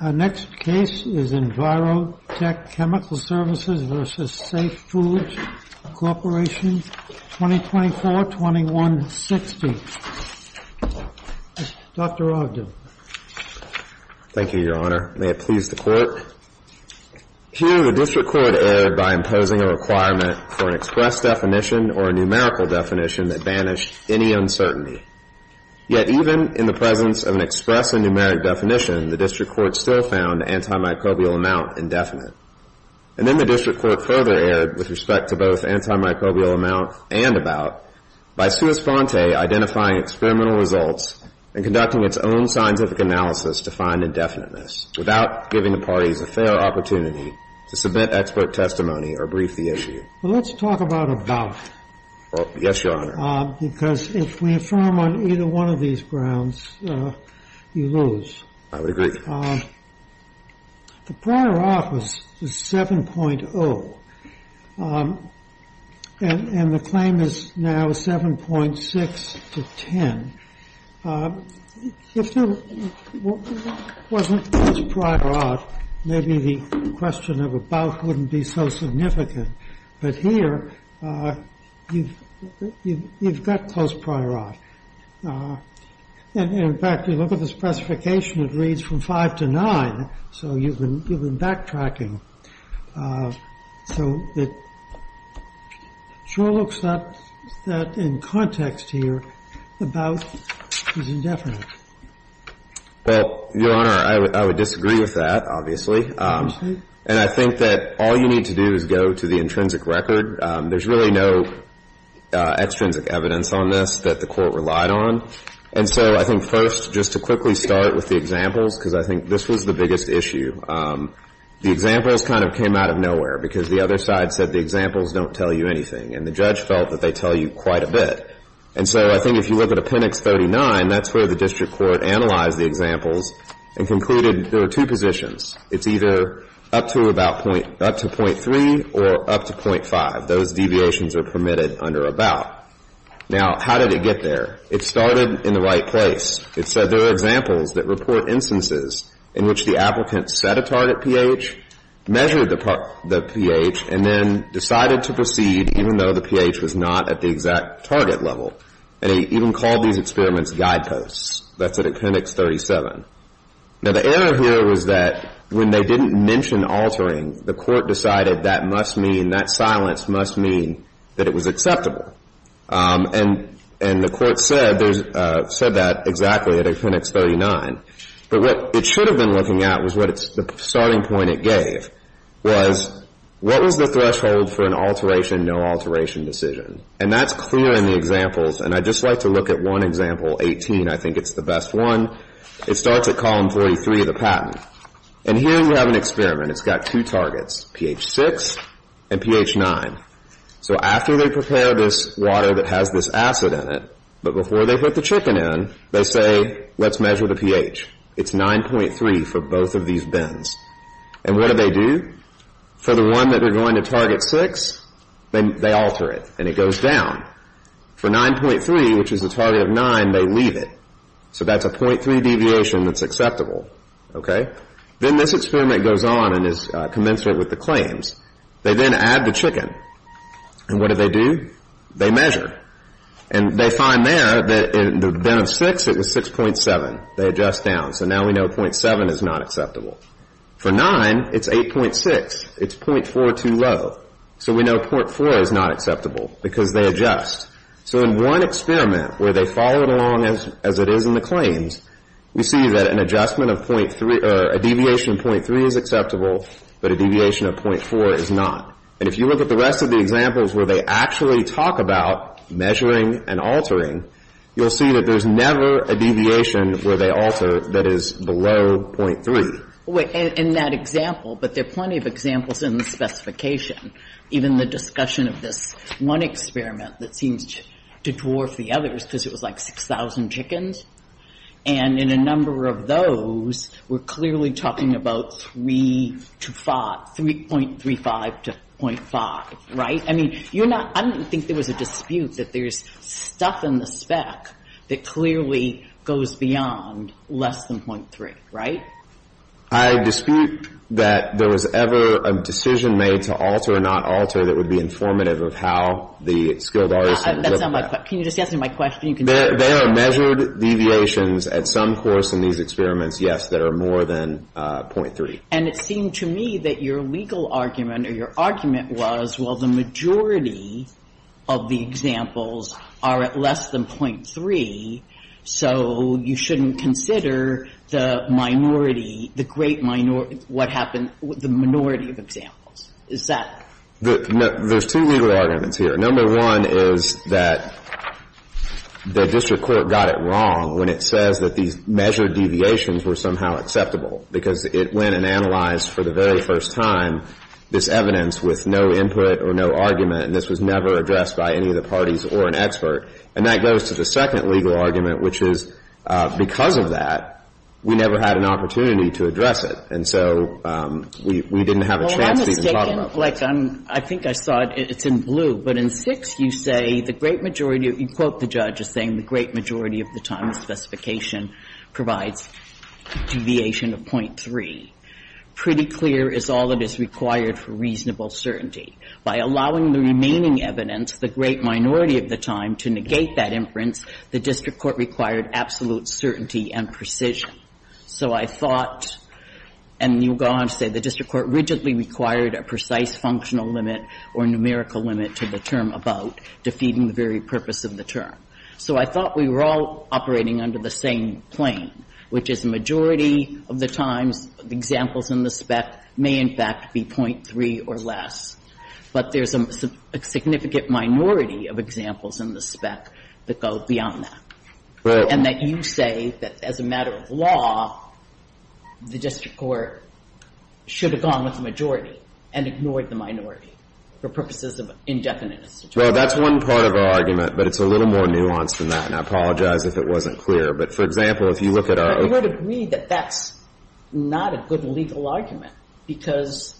2024-2160. Dr. Ogden. Thank you, Your Honor. May it please the Court. Here, the District Court erred by imposing a requirement for an express definition or a numerical definition that banished any uncertainty. Yet even in the presence of an express and numeric definition, the District Court still found antimicrobial amount indefinite. And then the District Court further erred with respect to both antimicrobial amount and about by sui sponte identifying experimental results and conducting its own scientific analysis to find indefiniteness without giving the parties a fair opportunity to submit expert testimony or brief the issue. Well, let's talk about about. Yes, Your Honor. Because if we affirm on either one of these grounds, you lose. I would agree. The prior office is 7.0. And the claim is now 7.6 to 10. If there wasn't this prior off, maybe the question of about wouldn't be so significant. But here, you've got close prior off. And in fact, you look at the specification, it reads from 5 to 9. So you've been backtracking. So it sure looks that in context here, about is indefinite. Well, Your Honor, I would think that all you need to do is go to the intrinsic record. There's really no extrinsic evidence on this that the Court relied on. And so I think first, just to quickly start with the examples, because I think this was the biggest issue. The examples kind of came out of nowhere, because the other side said the examples don't tell you anything. And the judge felt that they tell you quite a bit. And so I think if you look at Appendix 39, that's where the District Court analyzed the examples and concluded there are two positions. It's either up to about... up to .3 or up to .5. Those deviations are permitted under about. Now, how did it get there? It started in the right place. It said there are examples that report instances in which the applicant set a target pH, measured the pH, and then decided to proceed even though the pH was not at the exact target level. And it even called these experiments guideposts. That's at Appendix 37. Now, the error here was that when they didn't mention altering, the Court decided that must mean... that silence must mean that it was acceptable. And the Court said that exactly at Appendix 39. But what it should have been looking at was what it's... the starting point it gave was, what was the threshold for an alteration, no alteration decision? And that's clear in the examples. And I'd just like to look at one example, 18. I think it's the best one. It starts at Column 43 of the patent. And here you have an experiment. It's got two targets, pH 6 and pH 9. So after they prepare this water that has this acid in it, but before they put the chicken in, they say, let's measure the pH. It's 9.3 for both of these bins. And what do they do? For the one that they're going to target 6, they alter it. And it goes down. For 9.3, which is the target of 9, they leave it. So that's a .3 deviation that's acceptable. Okay? Then this experiment goes on and is commensurate with the claims. They then add the chicken. And what do they do? They measure. And they find there that in the bin of 6, it was 6.7. They adjust down. So now we know .7 is not acceptable. For 9, it's 8.6. It's .42 low. So we know .4 is not acceptable because they adjust. So in one experiment where they followed along as it is in the claims, we see that an adjustment of .3, a deviation of .3 is acceptable, but a deviation of .4 is not. And if you look at the rest of the examples where they actually talk about measuring and altering, you'll see that there's never a deviation where they alter that is below .3. And that example, but there are plenty of examples in the specification, even the discussion of this one experiment that seems to dwarf the others because it was like 6,000 chickens. And in a number of those, we're clearly talking about 3 to 5, 3.35 to .5, right? I mean, you're not – I don't think there was a dispute that there's stuff in the spec that clearly goes beyond less than .3, right? I dispute that there was ever a decision made to alter or not alter that would be informative of how the skilled artisan looked at it. That's not my question. Can you just answer my question? They are measured deviations at some course in these experiments, yes, that are more than .3. And it seemed to me that your legal argument or your argument was, well, the majority of the examples are at less than .3, so you shouldn't consider the minority, the great minority – what happened with the minority of examples. Is that – There's two legal arguments here. Number one is that the district court got it wrong when it says that these measured deviations were somehow acceptable, because it went and analyzed for the very first time this evidence with no input or no argument, and this was never addressed by any of the parties or an expert. And that goes to the second legal argument, which is because of that, we never had an opportunity to address it. And so we didn't have a chance to even talk about it. Well, I'm mistaken. Like, I think I saw it. It's in blue. But in 6, you say the great majority – you quote the judge as saying the great majority of the time, the specification provides a deviation of .3. Pretty clear is all that is required for reasonable certainty. By allowing the remaining evidence, the great minority of the time, to negate that inference, the district court required absolute certainty and precision. So I thought, and you'll go on to say, the district court rigidly required a precise functional limit or numerical limit to the term about, defeating the very purpose of the term. So I thought we were all operating under the same plane, which is the majority of the times, the examples in the spec may, in fact, be .3 or less, but there's a significant minority of examples in the spec that go beyond that. Right. And that you say that as a matter of law, the district court should have gone with the majority and ignored the minority for purposes of indefinite situations. Well, that's one part of our argument, but it's a little more nuanced than that. And I apologize if it wasn't clear. But, for example, if you look at our – So I would agree that that's not a good legal argument, because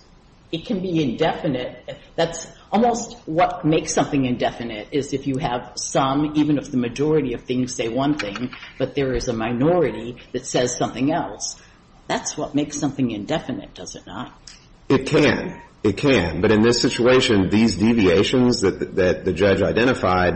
it can be indefinite – that's almost what makes something indefinite is if you have some, even if the majority of things say one thing, but there is a minority that says something else. That's what makes something indefinite, does it not? It can. It can. But in this situation, these deviations that the judge identified,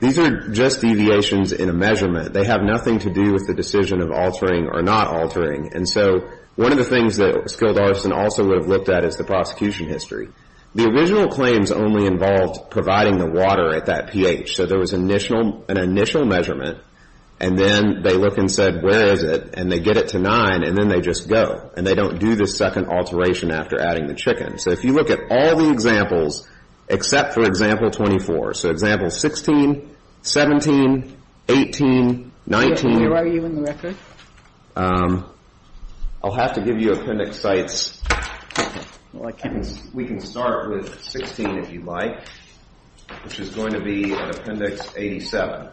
these are just deviations in a measurement. They have nothing to do with the decision of altering or not altering. And so one of the things that Skilled Arson also would have looked at is the prosecution history. The original claims only involved providing the water at that pH. So there was an initial measurement, and then they look and said, where is it? And they get it to 9, and then they just go. And they don't do this second alteration after adding the chicken. So if you look at all the examples, except for example 24 – so example 16, 17, 18, 19 – Where are you in the record? I'll have to give you appendix sites. We can start with 16, if you'd like, which is going to be an appendix 87.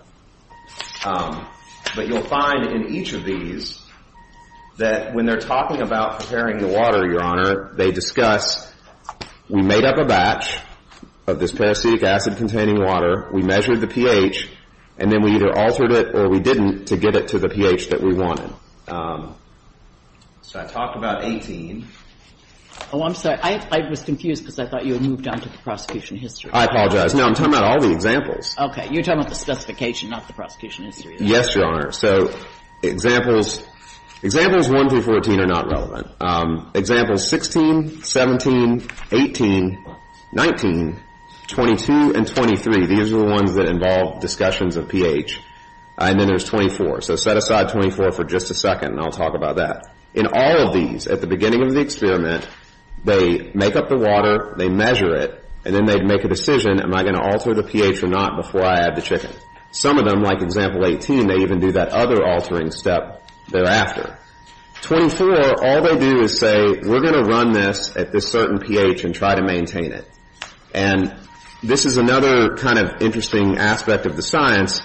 But you'll find in each of these that when they're talking about preparing the water, Your Honor, they discuss, we made up a batch of this parasitic acid-containing water, we measured the pH, and then we either altered it or we didn't to get it to the pH that we wanted. So I talked about 18. Oh, I'm sorry. I was confused because I thought you had moved on to the prosecution history. I apologize. No, I'm talking about all the examples. Okay. You're talking about the specification, not the prosecution history. Yes, Your Honor. So examples 1-14 are not relevant. Examples 16, 17, 18, 19, 22, and 23, these are the ones that involve discussions of pH. And then there's 24. So set aside 24 for just a second, and I'll talk about that. In all of these, at the beginning of the experiment, they make up the water, they measure it, and then they'd make a decision, am I going to alter the pH or not before I add the chicken? Some of them, like example 18, they even do that other altering step thereafter. 24, all they do is say, we're going to run this at this certain pH and try to maintain it. And this is another kind of interesting aspect of the science.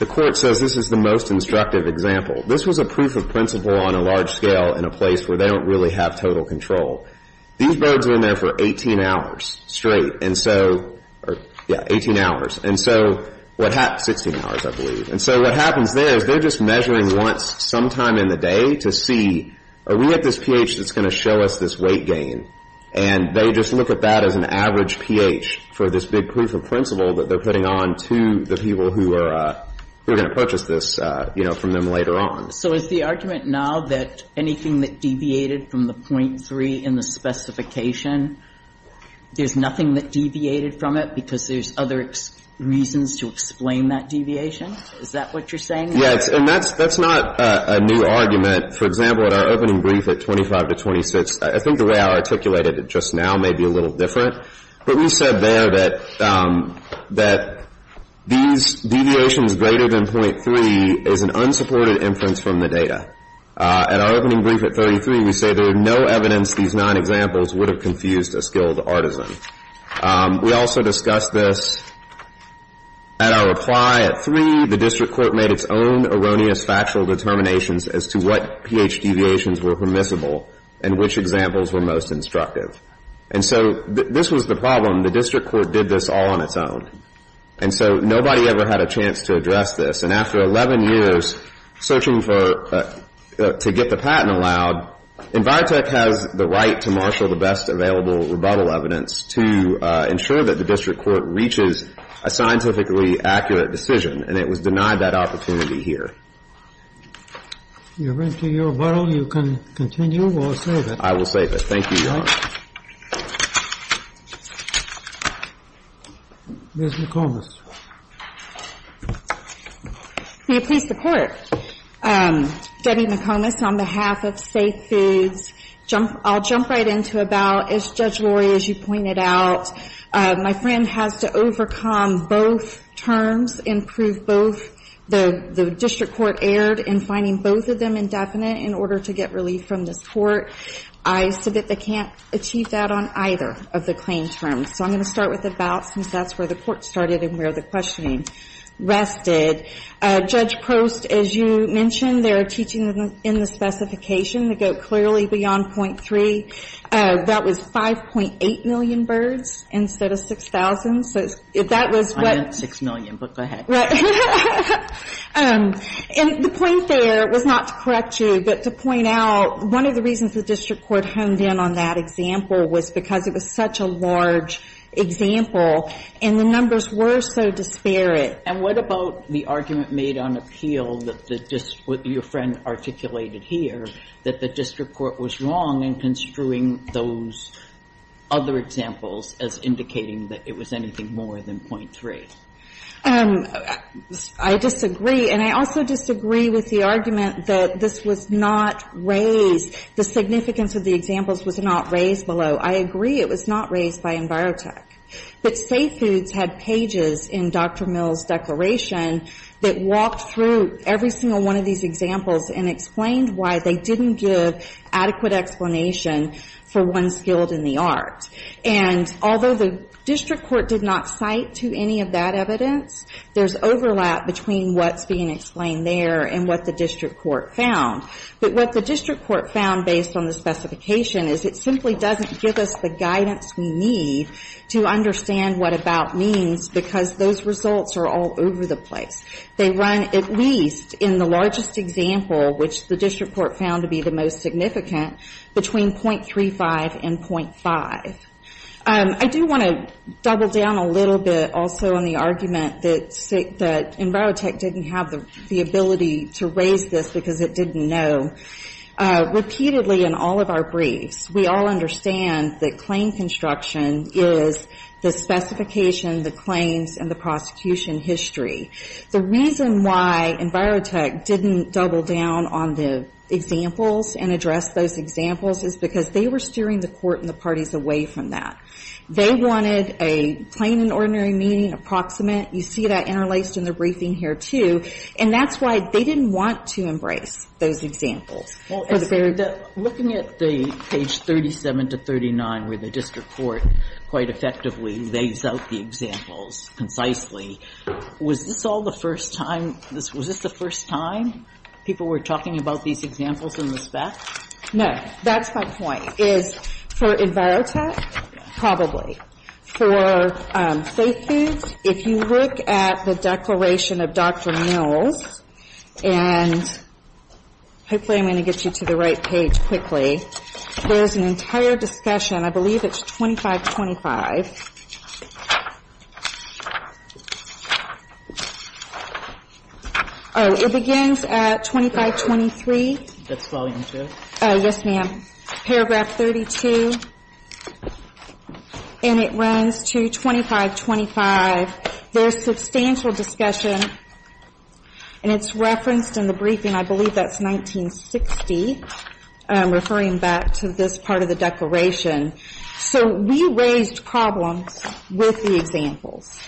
The Court says this is the most instructive example. This was a proof of principle on a large scale in a little control. These birds were in there for 18 hours straight. And so, yeah, 18 hours. And so what happens, 16 hours, I believe. And so what happens there is they're just measuring once, sometime in the day, to see, are we at this pH that's going to show us this weight gain? And they just look at that as an average pH for this big proof of principle that they're putting on to the people who are going to purchase this, you know, from them later on. So is the argument now that anything that deviated from the .3 in the specification, there's nothing that deviated from it because there's other reasons to explain that deviation? Is that what you're saying? Yeah. And that's not a new argument. For example, at our opening brief at 25 to 26, I think the way I articulated it just now may be a little different. But we said there that these deviations greater than .3 is an unsupported inference from the data. At our opening brief at 33, we say there is no evidence these nine examples would have confused a skilled artisan. We also discussed this at our reply at three, the district court made its own erroneous factual determinations as to what pH deviations were permissible and which examples were most instructive. And so this was the problem. The district court did this all on its own. And so nobody ever had a chance to address this. And after 11 years searching for, to get the patent allowed, EnviroTech has the right to marshal the best available rebuttal evidence to ensure that the district court reaches a scientifically accurate decision. And it was denied that opportunity here. If you're ready for your rebuttal, you can continue or save it. I will save it. Thank you, Your Honor. Ms. McComas. May it please the Court. Debbie McComas on behalf of Safe Foods. I'll jump right into about, as Judge Lori, as you pointed out, my friend has to overcome both terms, improve both. The district court erred in finding both of them indefinite in order to get relief from this Court. I submit they can't achieve that on either of the claim terms. So I'm going to start with about, since that's where the Court started and where the questioning rested. Judge Prost, as you mentioned, their teaching in the specification to go clearly beyond .3, that was 5.8 million birds instead of 6,000. So if that was what you meant, 6 million, but go ahead. Right. And the point there was not to correct you, but to point out one of the reasons the district court honed in on that example was because it was such a large example and the numbers were so disparate. And what about the argument made on appeal that the district, what your friend articulated here, that the district court was wrong in construing those other examples as indicating that it was anything more than .3? I disagree. And I also disagree with the argument that this was not raised, the significance of the examples was not raised below. I agree it was not raised by EnviroTech. But Safe Foods had pages in Dr. Mill's declaration that walked through every single one of these examples and explained why they didn't give adequate explanation for one skilled in the art. And although the district court did not cite to any of that evidence, there's overlap between what's being explained there and what the district court found. But what the district court found based on the specification is it simply doesn't give us the guidance we need to understand what about means because those results are all over the place. They run at least in the largest example, which the district court found to be the most significant, between .35 and .5. I do want to double down a little bit also on the argument that EnviroTech didn't have the ability to raise this because it didn't know. Repeatedly in all of our briefs, we all understand that claim construction is the specification, the claims, and the prosecution history. The reason why EnviroTech didn't double down on the examples and address those examples is because they were steering the court and the parties away from that. They wanted a plain and ordinary meaning, approximate. You see that interlaced in the briefing here, too. And that's why they didn't want to embrace those examples. Well, looking at the page 37 to 39 where the district court quite effectively lays out the examples concisely, was this all the first time, was this the first time people were talking about these examples in the spec? No. That's my point, is for EnviroTech, probably. For Safe Foods, if you look at the page, I'm going to get you to the right page quickly. There's an entire discussion, I believe it's 2525. Oh, it begins at 2523. That's volume two? Yes, ma'am. Paragraph 32. And it runs to 2525. There's substantial discussion and it's referenced in the briefing, I believe that's 1960, referring back to this part of the declaration. So we raised problems with the examples.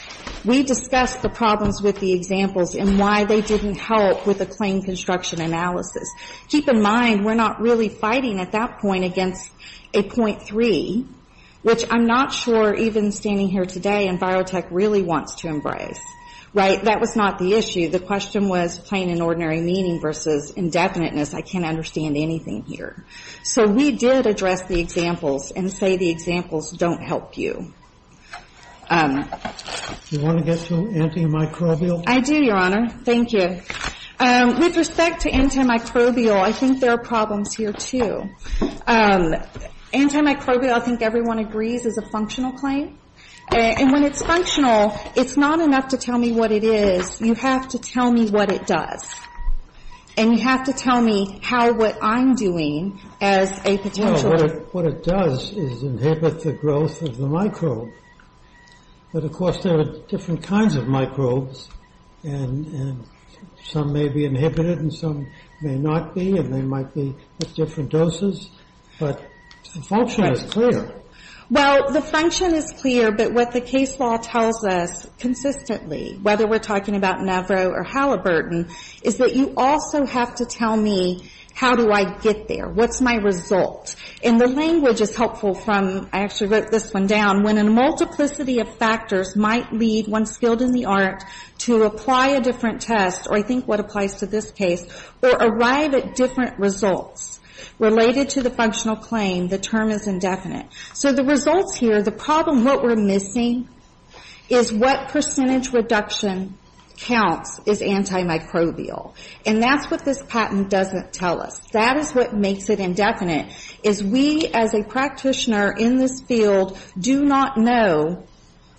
We discussed the problems with the examples and why they didn't help with the claim construction analysis. Keep in mind, we're not really fighting at that point against a .3, which I'm not sure even standing here today EnviroTech really wants to embrace. Right? That was not the issue. The question was plain and ordinary meaning versus indefiniteness. I can't understand anything here. So we did address the examples and say the examples don't help you. Do you want to get to antimicrobial? I do, Your Honor. Thank you. With respect to antimicrobial, I think there are problems here, too. Antimicrobial, I think everyone agrees, is a functional claim. And when it's functional, it's not enough to tell me what it is. You have to tell me what it does. And you have to tell me how what I'm doing as a potential... No, what it does is inhibit the growth of the microbe. But, of course, there are different kinds of microbes. And some may be inhibited and some may not be. And they might be at different doses. But the function is clear. Well, the function is clear. But what the case law tells us consistently, whether we're talking about Navarro or Halliburton, is that you also have to tell me how do I get there? What's my result? And the language is helpful from, I actually wrote this one down, when a multiplicity of factors might lead one skilled in the art to apply a different test, or I think what applies to this case, or arrive at different results related to the functional claim, the term is indefinite. So the results here, the problem, what we're missing is what percentage reduction counts as antimicrobial. And that's what this patent doesn't tell us. That is what we're missing. We do not know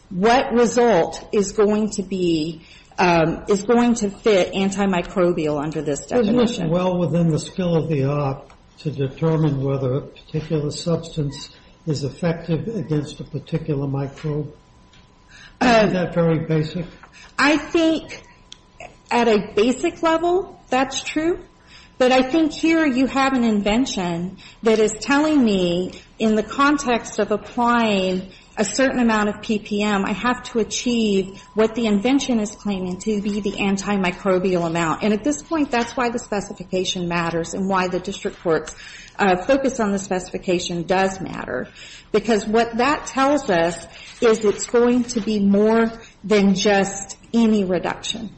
what result is going to be, is going to fit antimicrobial under this definition. Well, within the skill of the art to determine whether a particular substance is effective against a particular microbe. Isn't that very basic? I think at a basic level, that's true. But I think here you have an invention that is telling me in the context of applying a certain amount of PPM, I have to achieve what the invention is claiming to be the antimicrobial amount. And at this point, that's why the specification matters and why the district court's focus on the specification does matter. Because what that tells us is it's going to be more than just any reduction.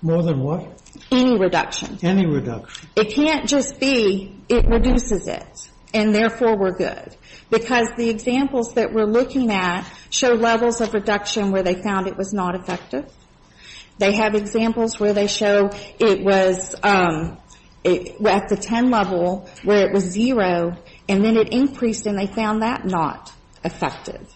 More than what? Any reduction. Any reduction. It can't just be it reduces it, and therefore we're good. Because the examples that we're looking at show levels of reduction where they found it was not effective. They have examples where they show it was at the ten level where it was zero, and then it increased and they found that not effective.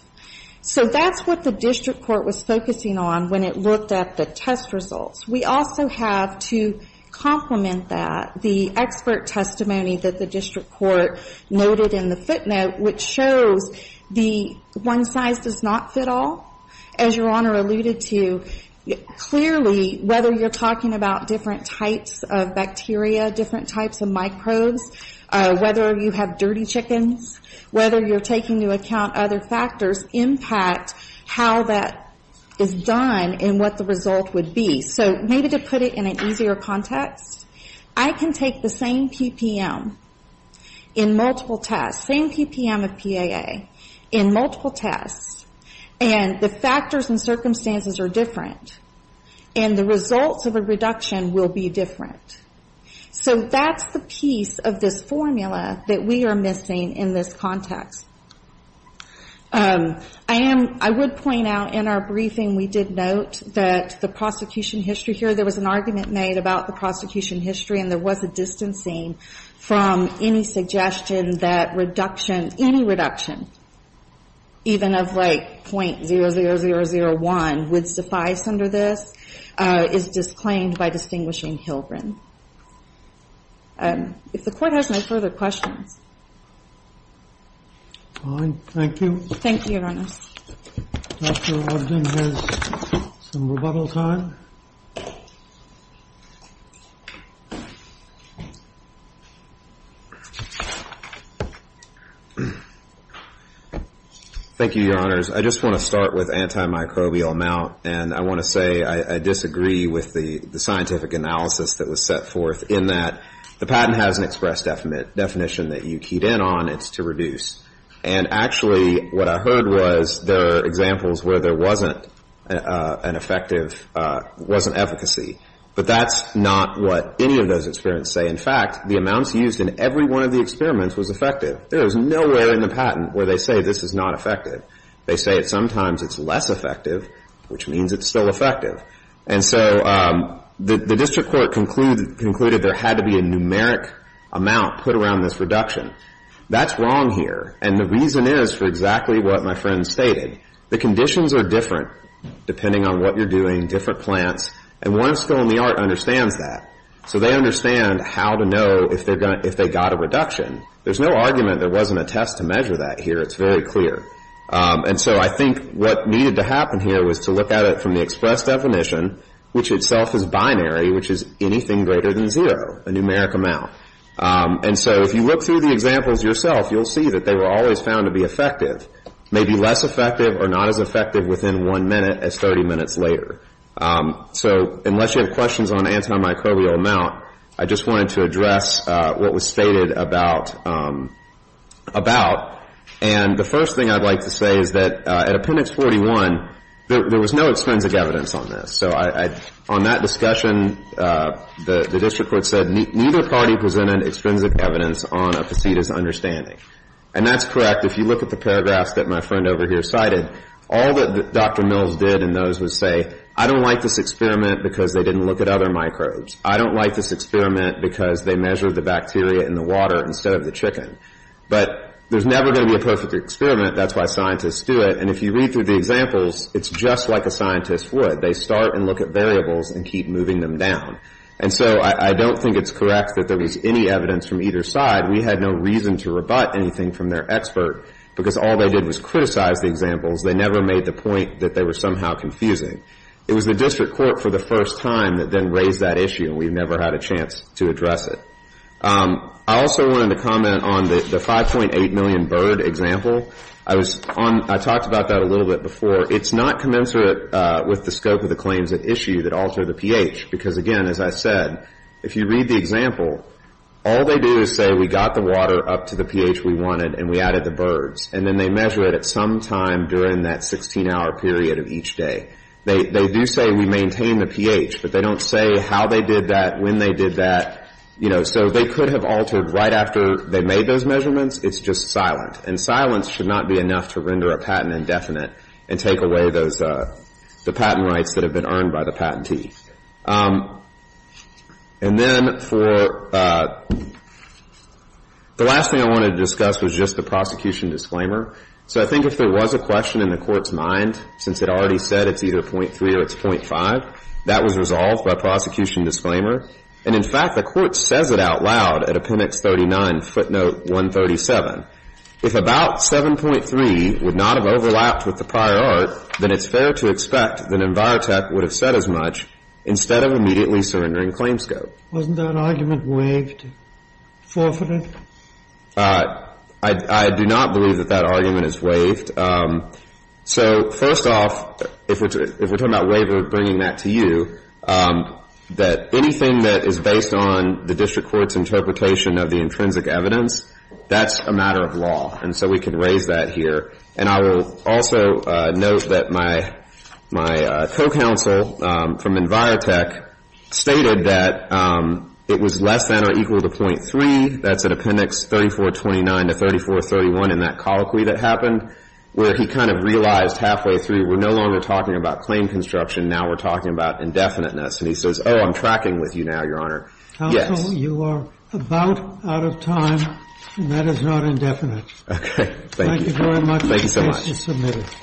So that's what the district court was focusing on when it looked at the test results. We also have to complement that, the expert testimony that the district court noted in the footnote, which shows the one size does not fit all. As Your Honor alluded to, clearly, whether you're talking about different types of bacteria, different types of microbes, whether you have dirty chickens, whether you're taking into account other factors, impact how that is done is going to be important in what the result would be. So maybe to put it in an easier context, I can take the same PPM in multiple tests, same PPM of PAA in multiple tests, and the factors and circumstances are different. And the results of a reduction will be different. So that's the piece of this formula that we are missing in this context. I would point out in our briefing, we did note that the prosecution history here, there was an argument made about the prosecution history, and there was a distancing from any suggestion that reduction, any reduction, even of like .00001 would suffice under this, is disclaimed by distinguishing Hilgren. If the Court has no further questions. Thank you, Your Honors. Thank you, Your Honors. I just want to start with antimicrobial amount, and I want to say I disagree with the scientific analysis that was set forth in that the patent has an express definition that you keyed in on, it's to reduce. And actually what I heard was there are examples where there wasn't an effective, wasn't efficacy. But that's not what any of those experiments say. In fact, the amounts used in every one of the experiments was effective. There is nowhere in the patent where they say this is not effective. They say sometimes it's less effective, which means it's still effective. And so the district court concluded there had to be a numeric amount put around this reduction. That's wrong here, and the reason is for exactly what my friend stated. The conditions are different depending on what you're doing, different plants, and one's fill-in-the-art understands that. So they understand how to know if they got a reduction. There's no argument there wasn't a test to measure that here. It's very clear. And so I think what needed to happen here was to look at it from the express definition, which itself is binary, which is anything greater than zero, a numeric amount. And so if you look through the examples yourself, you'll see that they were always found to be effective, maybe less effective or not as effective within one minute as 30 minutes later. So unless you have questions on antimicrobial amount, I just wanted to address what was stated about, about. And the first thing I'd like to say is that at Appendix 41, there was no extrinsic evidence on this. So on that discussion, the district court said neither party presented extrinsic evidence on a facetious understanding. And that's correct. If you look at the paragraphs that my friend over here cited, all that Dr. Mills did in those was say, I don't like this experiment because they didn't look at other microbes. I don't like this experiment because they measured the bacteria in the water instead of the chicken. But there's never going to be a perfect experiment. That's why scientists do it. And if you read through the examples, it's just like a scientist would. They start and look at variables and keep moving them down. And so I don't think it's correct that there was any evidence from either side. We had no reason to rebut anything from their expert, because all they did was criticize the examples. They never made the point that they were somehow confusing. It was the district court for the first time that then raised that issue, and we never had a chance to address it. I also wanted to comment on the 5.8 million bird example. I talked about that a little bit before. It's not commensurate with the scope of the claims at issue that alter the pH. Because, again, as I said, if you read the example, all they do is say we got the water up to the pH we wanted and we added the birds. And then they measure it at some time during that 16-hour period of each day. They do say we maintain the pH, but they don't say how they did that, when they did that. So they could have altered right after they made those measurements. It's just silent. And silence should not be enough to render a patent indefinite and take away the patent rights that have been earned by the patentee. And then for the last thing I wanted to discuss was just the prosecution disclaimer. So I think if there was a question in the court's mind, since it already said it's either .3 or it's .5, that was resolved by prosecution disclaimer. And, in fact, the court says it out loud at Appendix 39, footnote 137. If about 7.3 would not have overlapped with the prior art, then it's fair to expect that EnviroTech would have said as much instead of immediately surrendering claims scope. Wasn't that argument waived? Forfeited? I do not believe that that argument is waived. So first off, if we're talking about waiver, bringing that to you, anything that is based on the district court's interpretation of the intrinsic evidence, that's a matter of law. And so we can raise that here. And I will also note that my co-counsel from EnviroTech stated that it was less than or equal to .3. That's at Appendix 3429 to 3431 in that colloquy that happened, where he kind of realized halfway through, we're no longer talking about claim construction. Now we're talking about indefiniteness. And he says, oh, I'm tracking with you now, Your Honor. Yes. Counsel, you are about out of time, and that is not indefinite. Okay. Thank you. Thank you very much. Thank you so much. The case is submitted.